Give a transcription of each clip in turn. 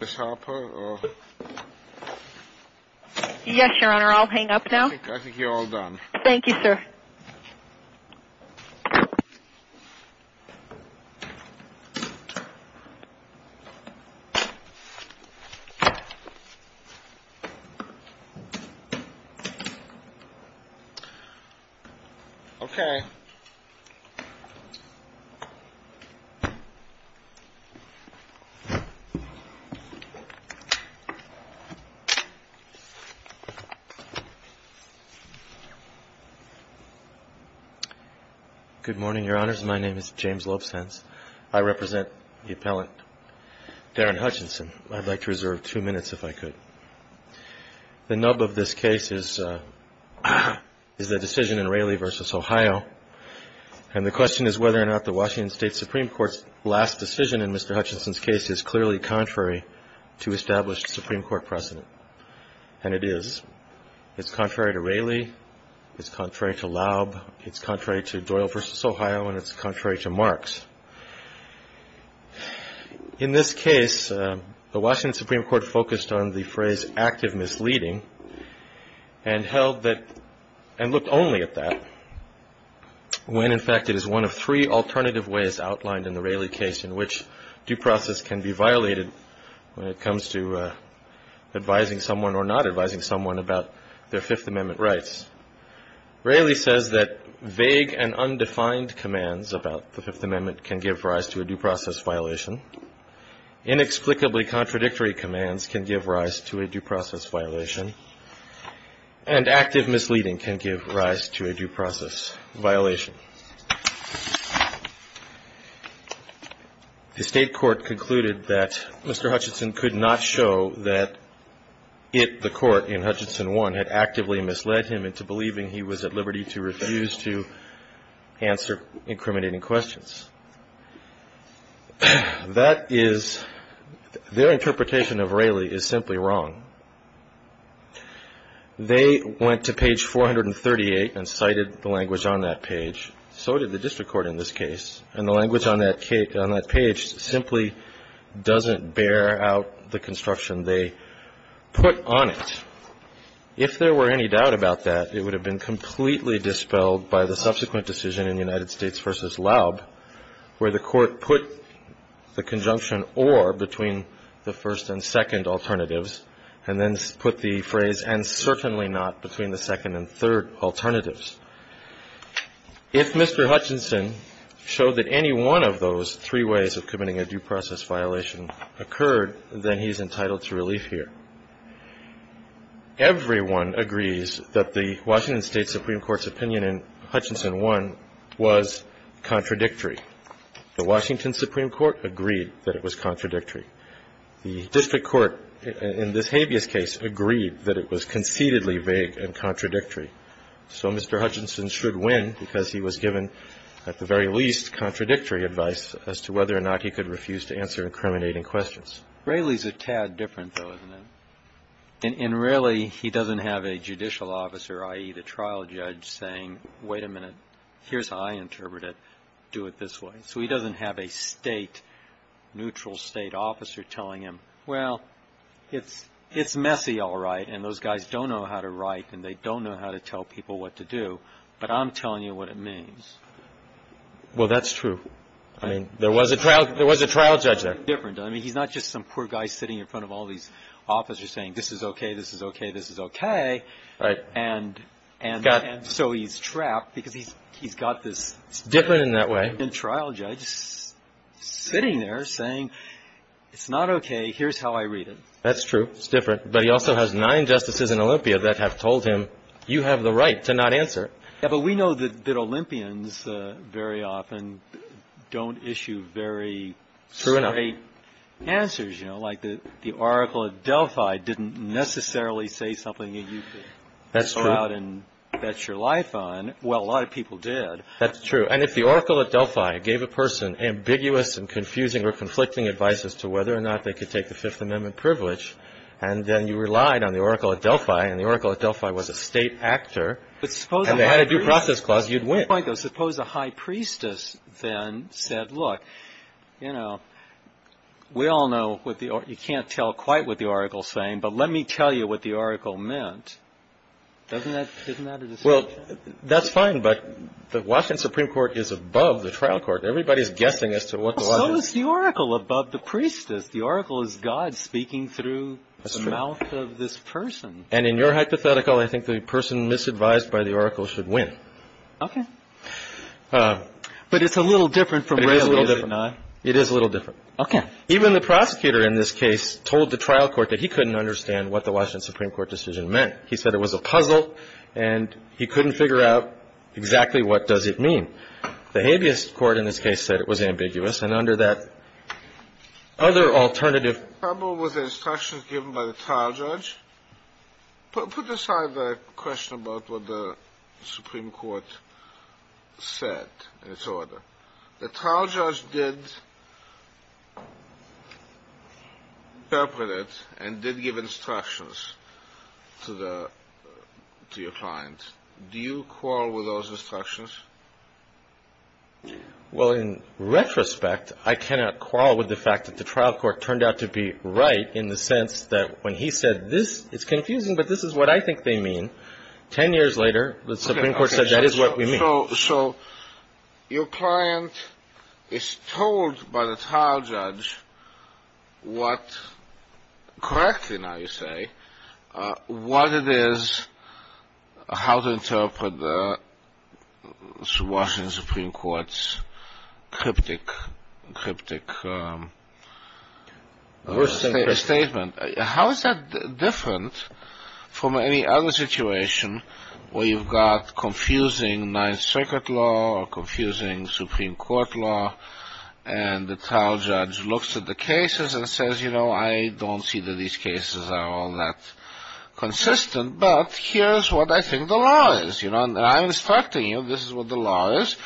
Ms. Harper? Yes, Your Honor. I'll hang up now. I think you're all done. Thank you, sir. Okay. Good morning, Your Honors. My name is James Lopes Hens. I represent the appellant, Darren Hutchinson. I'd like to reserve two minutes, if I could. The nub of this case is a decision in Raley v. Ohio, and the question is whether or not the Washington State Supreme Court's last decision in Mr. Hutchinson's case is clearly contrary to established Supreme Court precedent. And it is. It's contrary to Raley, it's contrary to Laub, it's contrary to Doyle v. Ohio, and it's contrary to Marks. In this case, the Washington Supreme Court focused on the phrase, active misleading, and held that, and looked only at that when, in fact, it is one of three alternative ways outlined in the Raley case in which due process can be violated when it comes to advising someone or not advising someone about their Fifth Amendment rights. Raley says that vague and undefined commands about the Fifth Amendment can give rise to a due process violation. Inexplicably contradictory commands can give rise to a due process violation. And active misleading can give rise to a due process violation. The State court concluded that Mr. Hutchinson could not show that it, the court in Hutchinson 1, had actively misled him into believing he was at liberty to refuse to answer incriminating questions. That is, their interpretation of Raley is simply wrong. They went to page 438 and cited the language on that page. So did the district court in this case. And the language on that page simply doesn't bear out the construction they put on it. If there were any doubt about that, it would have been completely dispelled by the subsequent decision in United States v. Laub where the court put the conjunction or between the first and second alternatives and then put the phrase and certainly not between the second and third alternatives. If Mr. Hutchinson showed that any one of those three ways of committing a due process violation occurred, then he's entitled to relief here. Everyone agrees that the Washington State Supreme Court's opinion in Hutchinson 1 was contradictory. The Washington Supreme Court agreed that it was contradictory. The district court in this habeas case agreed that it was conceitedly vague and contradictory. So Mr. Hutchinson should win because he was given at the very least contradictory advice as to whether or not he could refuse to answer incriminating questions. Raley's a tad different, though, isn't it? In Raley, he doesn't have a judicial officer, i.e., the trial judge, saying, wait a minute, here's how I interpret it, do it this way. So he doesn't have a state, neutral state officer telling him, well, it's messy, all right, and those guys don't know how to write and they don't know how to tell people what to do, but I'm telling you what it means. Well, that's true. I mean, there was a trial judge there. Different. I mean, he's not just some poor guy sitting in front of all these officers saying, this is okay, this is okay, this is okay. Right. And so he's trapped because he's got this different trial judge sitting there saying, it's not okay, here's how I read it. That's true. It's different. But he also has nine justices in Olympia that have told him, you have the right to not answer. Yeah, but we know that Olympians very often don't issue very straight answers. You know, like the Oracle at Delphi didn't necessarily say something that you could go out and bet your life on. Well, a lot of people did. That's true. And if the Oracle at Delphi gave a person ambiguous and confusing or conflicting advice as to whether or not they could take the Fifth and then you relied on the Oracle at Delphi and the Oracle at Delphi was a state actor, and they had a due process clause, you'd win. But suppose a high priestess then said, look, you know, we all know what the – you can't tell quite what the Oracle's saying, but let me tell you what the Oracle meant. Doesn't that – isn't that a decision? Well, that's fine, but the Washington Supreme Court is above the trial court. Everybody's guessing as to what the – So is the Oracle above the priestess. The Oracle is God speaking through the mouth of this person. And in your hypothetical, I think the person misadvised by the Oracle should win. Okay. But it's a little different from – It is a little different. Okay. Even the prosecutor in this case told the trial court that he couldn't understand what the Washington Supreme Court decision meant. He said it was a puzzle and he couldn't figure out exactly what does it mean. The habeas court in this case said it was ambiguous. And under that other alternative – The problem was the instructions given by the trial judge. Put aside the question about what the Supreme Court said in its order. The trial judge did interpret it and did give instructions to the – to your client. Do you quarrel with those instructions? Well, in retrospect, I cannot quarrel with the fact that the trial court turned out to be right in the sense that when he said, this is confusing, but this is what I think they mean, 10 years later, the Supreme Court said that is what we mean. So your client is told by the trial judge what – correctly now you say – what it is, how to interpret the Washington Supreme Court's cryptic statement. How is that different from any other situation where you've got confusing Ninth Circuit law or confusing Supreme Court law, and the trial judge looks at the cases and says, you know, I don't see that these cases are all that consistent, but here's what I think the law is, you know, and I'm instructing you, this is what the law is,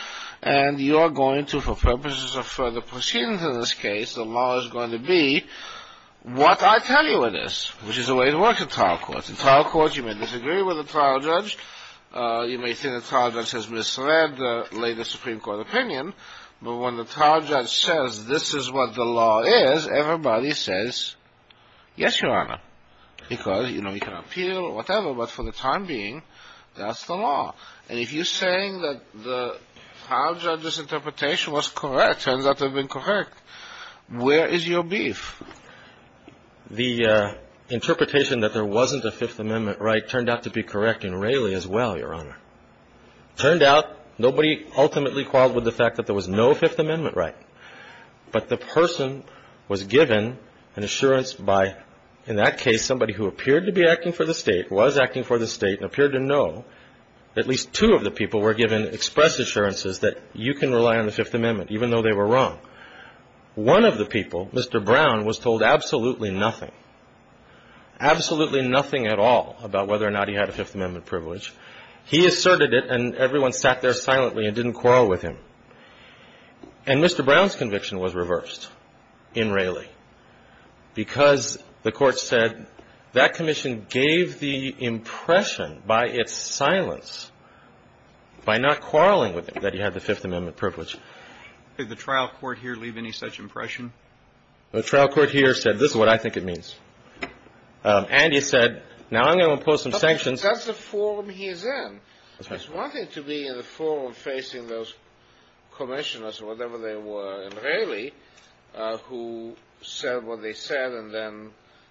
and you're going to, for purposes of further proceedings in this case, the law is going to be what I tell you it is, which is the way it works in trial courts. In trial courts, you may disagree with the trial judge, you may say the trial judge has misread the latest Supreme Court opinion, but when the trial judge says this is what the law is, everybody says, yes, Your Honor, because, you know, you can appeal or whatever, but for the time being, that's the law. And if you're saying that the trial judge's interpretation was correct, turns out to have been correct, where is your beef? The interpretation that there wasn't a Fifth Amendment right turned out to be correct in Raley as well, Your Honor. It turned out nobody ultimately qualified with the fact that there was no Fifth Amendment right, but the person was given an assurance by, in that case, somebody who appeared to be acting for the State, was acting for the State, and appeared to know that at least two of the people were given express assurances that you can rely on the Fifth Amendment, even though they were wrong. One of the people, Mr. Brown, was told absolutely nothing, absolutely nothing at all about whether or not he had a Fifth Amendment privilege. He asserted it, and everyone sat there silently and didn't quarrel with him. And Mr. Brown's conviction was reversed in Raley because the Court said that commission gave the impression by its silence, by not quarreling with him, that he had the Fifth Amendment privilege. Did the trial court here leave any such impression? The trial court here said, this is what I think it means. And he said, now I'm going to impose some sanctions. That's the forum he's in. He's wanting to be in the forum facing those commissioners or whatever they were in Raley who said what they said and then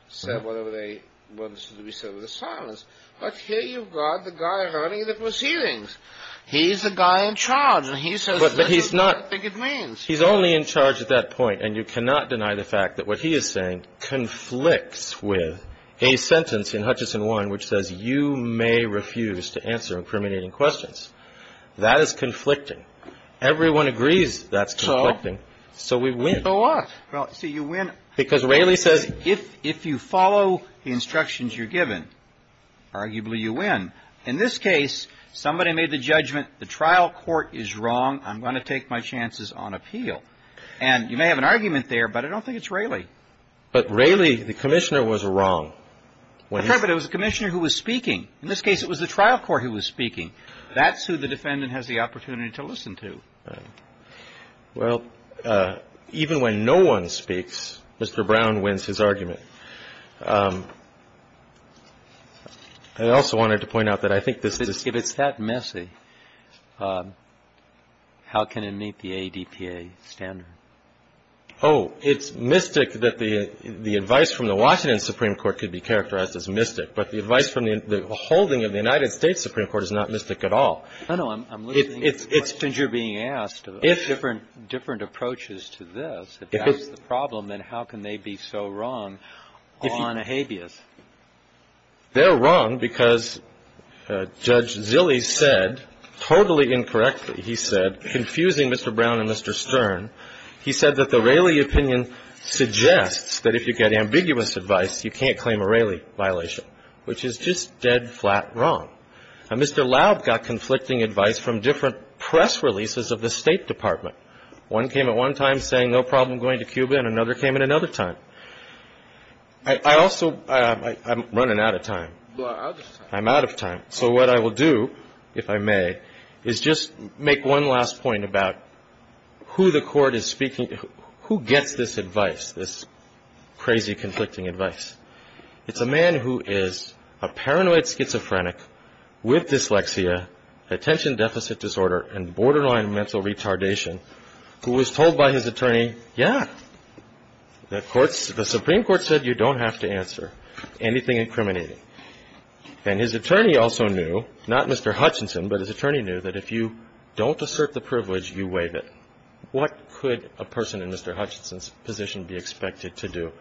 said whatever they wanted to be said with a silence. But here you've got the guy running the proceedings. He's the guy in charge, and he says, this is what I think it means. But he's not – he's only in charge at that point, And you cannot deny the fact that what he is saying conflicts with a sentence in Hutchison 1 which says, you may refuse to answer incriminating questions. That is conflicting. Everyone agrees that's conflicting, so we win. So what? Well, see, you win. Because Raley says – If you follow the instructions you're given, arguably you win. In this case, somebody made the judgment, the trial court is wrong. I'm going to take my chances on appeal. And you may have an argument there, but I don't think it's Raley. But Raley, the commissioner, was wrong. But it was the commissioner who was speaking. In this case, it was the trial court who was speaking. That's who the defendant has the opportunity to listen to. Well, even when no one speaks, Mr. Brown wins his argument. I also wanted to point out that I think this is – If it's that messy, how can it meet the ADPA standard? Oh, it's mystic that the advice from the Washington Supreme Court could be characterized as mystic. But the advice from the holding of the United States Supreme Court is not mystic at all. No, no. I'm listening to questions you're being asked of different approaches to this. If that's the problem, then how can they be so wrong on a habeas? They're wrong because Judge Zille said, totally incorrectly, he said, confusing Mr. Brown and Mr. Stern, he said that the Raley opinion suggests that if you get ambiguous advice, you can't claim a Raley violation, which is just dead flat wrong. Now, Mr. Laub got conflicting advice from different press releases of the State Department. One came at one time saying, no problem going to Cuba, and another came at another time. I also – I'm running out of time. I'm out of time. So what I will do, if I may, is just make one last point about who the court is speaking – who gets this advice, this crazy, conflicting advice? It's a man who is a paranoid schizophrenic with dyslexia, attention deficit disorder, and borderline mental retardation, who was told by his attorney, yeah, the Supreme Court said you don't have to answer anything incriminating. And his attorney also knew, not Mr. Hutchinson, but his attorney knew that if you don't assert the privilege, you waive it. What could a person in Mr. Hutchinson's position be expected to do?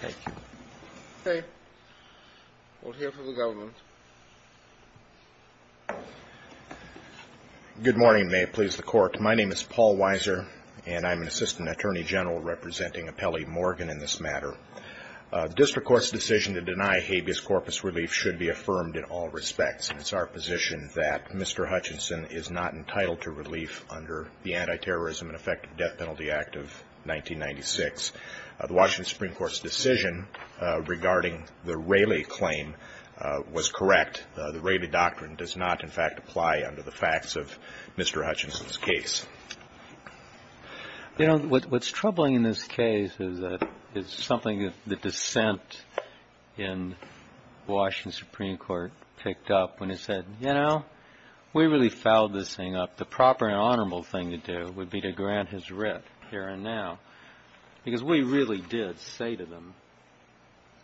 Thank you. Okay. We'll hear from the government. Good morning. May it please the Court. My name is Paul Weiser, and I'm an assistant attorney general representing Apelli Morgan in this matter. The district court's decision to deny habeas corpus relief should be affirmed in all respects. It's our position that Mr. Hutchinson is not entitled to relief under the Anti-Terrorism and Effective Death Penalty Act of 1996. The Washington Supreme Court's decision regarding the Rayleigh claim was correct. The Rayleigh Doctrine does not, in fact, apply under the facts of Mr. Hutchinson's case. You know, what's troubling in this case is that it's something that the dissent in Washington Supreme Court picked up when it said, you know, we really fouled this thing up. The proper and honorable thing to do would be to grant his writ here and now. Because what he really did say to them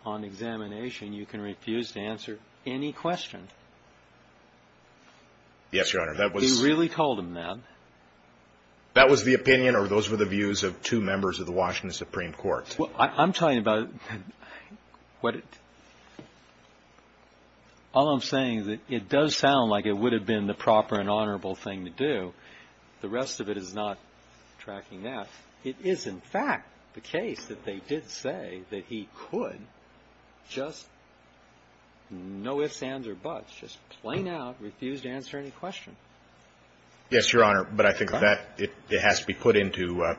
on examination, you can refuse to answer any question. Yes, Your Honor. He really told them that. That was the opinion or those were the views of two members of the Washington Supreme Court. Well, I'm talking about what it – all I'm saying is that it does sound like it would have been the proper and honorable thing to do. The rest of it is not tracking that. It is, in fact, the case that they did say that he could just no ifs, ands, or buts, just plain out refuse to answer any question. Yes, Your Honor. But I think that it has to be put into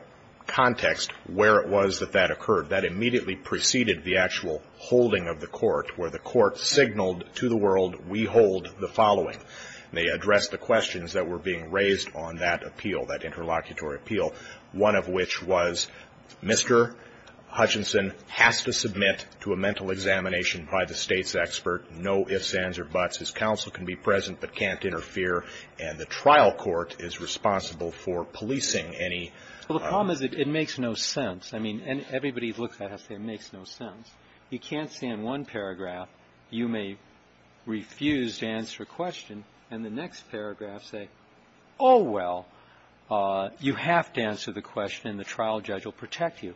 context where it was that that occurred. That immediately preceded the actual holding of the court where the court signaled to the world, we hold the following. They addressed the questions that were being raised on that appeal, that interlocutory appeal, one of which was Mr. Hutchinson has to submit to a mental examination by the State's expert, no ifs, ands, or buts. His counsel can be present but can't interfere, and the trial court is responsible for policing any – Well, the problem is it makes no sense. I mean, and everybody who looks at it has to say it makes no sense. You can't say in one paragraph you may refuse to answer a question, and the next paragraph say, oh, well, you have to answer the question and the trial judge will protect you.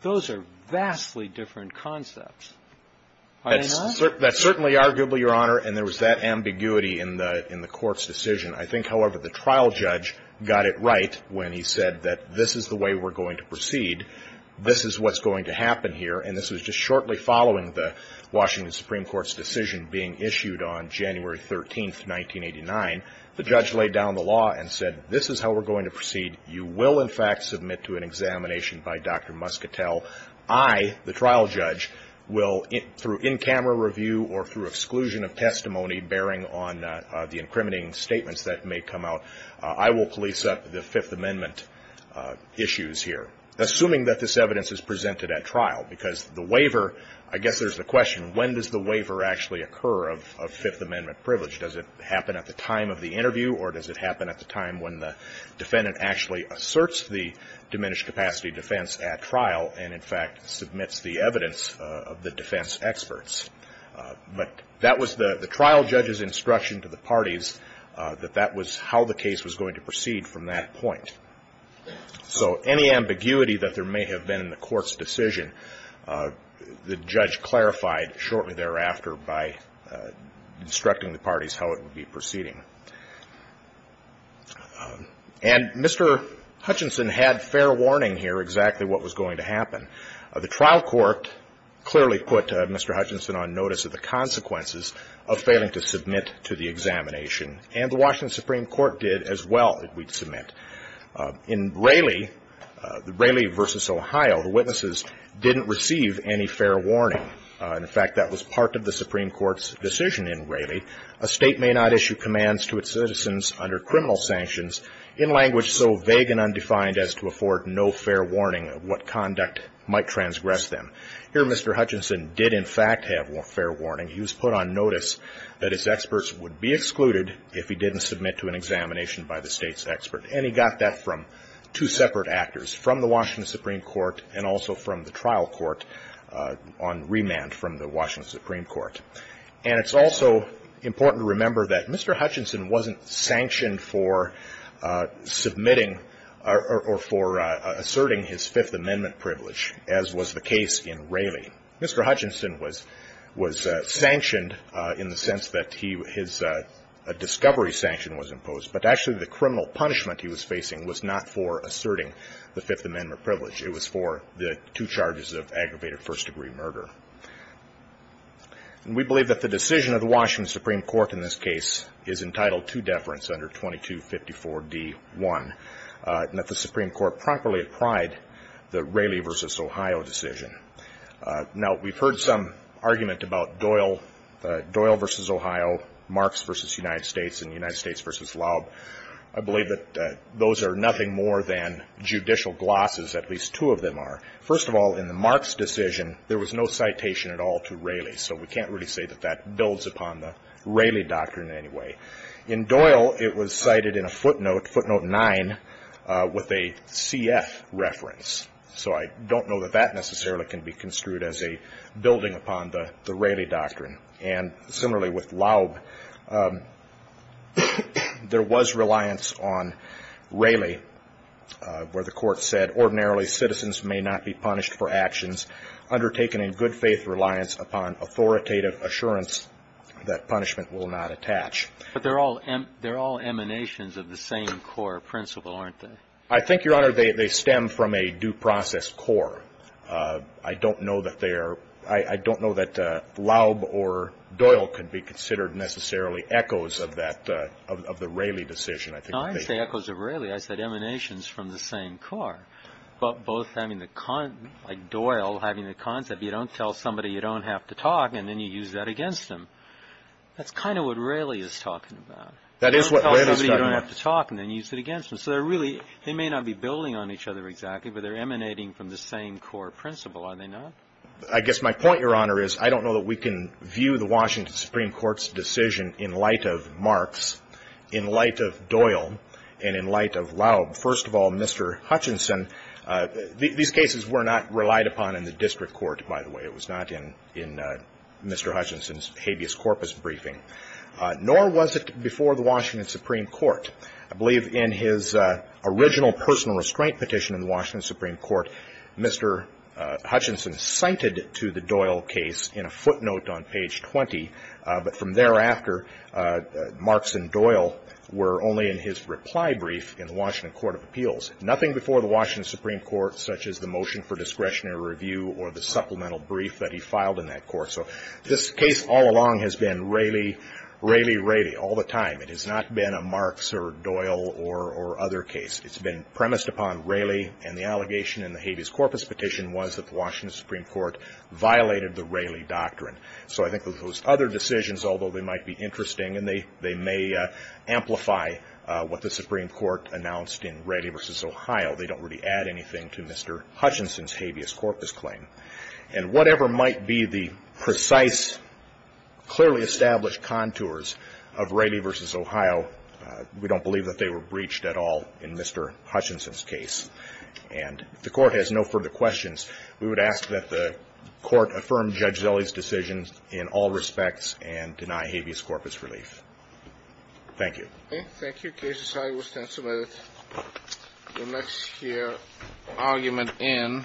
Those are vastly different concepts. Are they not? That's certainly arguably, Your Honor, and there was that ambiguity in the court's decision. I think, however, the trial judge got it right when he said that this is the way we're going to proceed, this is what's going to happen here, and this was just shortly following the Washington Supreme Court's decision being issued on January 13th, 1989. The judge laid down the law and said this is how we're going to proceed. You will, in fact, submit to an examination by Dr. Muscatel. I, the trial judge, will, through in-camera review or through exclusion of testimony bearing on the incriminating statements that may come out, I will police up the Fifth Amendment issues here, assuming that this evidence is presented at trial because the waiver, I guess there's the question, when does the waiver actually occur of Fifth Amendment privilege? Does it happen at the time of the interview or does it happen at the time when the defendant actually asserts the diminished capacity defense at trial and, in fact, submits the evidence of the defense experts? But that was the trial judge's instruction to the parties that that was how the case was going to proceed from that point. So any ambiguity that there may have been in the court's decision, the judge clarified shortly thereafter by instructing the parties how it would be proceeding. And Mr. Hutchinson had fair warning here exactly what was going to happen. The trial court clearly put Mr. Hutchinson on notice of the consequences of failing to In Raleigh, Raleigh v. Ohio, the witnesses didn't receive any fair warning. In fact, that was part of the Supreme Court's decision in Raleigh, a state may not issue commands to its citizens under criminal sanctions in language so vague and undefined as to afford no fair warning of what conduct might transgress them. Here Mr. Hutchinson did in fact have fair warning. He was put on notice that his experts would be excluded if he didn't submit to an examination by the state's expert. And he got that from two separate actors, from the Washington Supreme Court and also from the trial court on remand from the Washington Supreme Court. And it's also important to remember that Mr. Hutchinson wasn't sanctioned for submitting or for asserting his Fifth Amendment privilege, as was the case in Raleigh. Mr. Hutchinson was sanctioned in the sense that his discovery sanction was imposed, but actually the criminal punishment he was facing was not for asserting the Fifth Amendment privilege. It was for the two charges of aggravated first-degree murder. And we believe that the decision of the Washington Supreme Court in this case is entitled to deference under 2254d-1, and that the Supreme Court properly applied the Raleigh v. Ohio decision. Now, we've heard some argument about Doyle, Doyle v. Ohio, Marks v. United States and United States v. Laub. I believe that those are nothing more than judicial glosses, at least two of them are. First of all, in the Marks decision, there was no citation at all to Raleigh. So we can't really say that that builds upon the Raleigh doctrine in any way. In Doyle, it was cited in a footnote, footnote 9, with a CF reference. So I don't know that that necessarily can be construed as a building upon the Raleigh doctrine. And similarly with Laub, there was reliance on Raleigh, where the Court said, ordinarily citizens may not be punished for actions undertaken in good-faith reliance upon authoritative assurance that punishment will not attach. But they're all emanations of the same core principle, aren't they? I think, Your Honor, they stem from a due process core. I don't know that they are – I don't know that Laub or Doyle can be considered necessarily echoes of that – of the Raleigh decision, I think. No, I didn't say echoes of Raleigh. I said emanations from the same core. Both having the – like Doyle having the concept, you don't tell somebody you don't have to talk and then you use that against them. That's kind of what Raleigh is talking about. That is what Raleigh is talking about. You don't tell somebody you don't have to talk and then use it against them. So they're really – they may not be building on each other exactly, but they're emanating from the same core principle, are they not? I guess my point, Your Honor, is I don't know that we can view the Washington Supreme Court's decision in light of Marks, in light of Doyle, and in light of Laub. First of all, Mr. Hutchinson – these cases were not relied upon in the district court, by the way. It was not in Mr. Hutchinson's habeas corpus briefing. Nor was it before the Washington Supreme Court. I believe in his original personal restraint petition in the Washington Supreme Court, Mr. Hutchinson cited to the Doyle case in a footnote on page 20, but from thereafter, Marks and Doyle were only in his reply brief in the Washington Court of Appeals. Nothing before the Washington Supreme Court, such as the motion for discretionary review or the supplemental brief that he filed in that court. So this case all along has been Raleigh, Raleigh, Raleigh all the time. It has not been a Marks or Doyle or other case. It's been premised upon Raleigh, and the allegation in the habeas corpus petition was that the Washington Supreme Court violated the Raleigh doctrine. So I think that those other decisions, although they might be interesting and they may amplify what the Supreme Court announced in Raleigh v. Ohio, they don't really add anything to Mr. Hutchinson's habeas corpus claim. And whatever might be the precise, clearly established contours of Raleigh v. Ohio, we don't believe that they were breached at all in Mr. Hutchinson's case. And if the Court has no further questions, we would ask that the Court affirm Judge Zelle's decision in all respects and deny habeas corpus relief. Thank you. Okay. Thank you. Case decided. We'll stand submitted. We'll next hear argument in.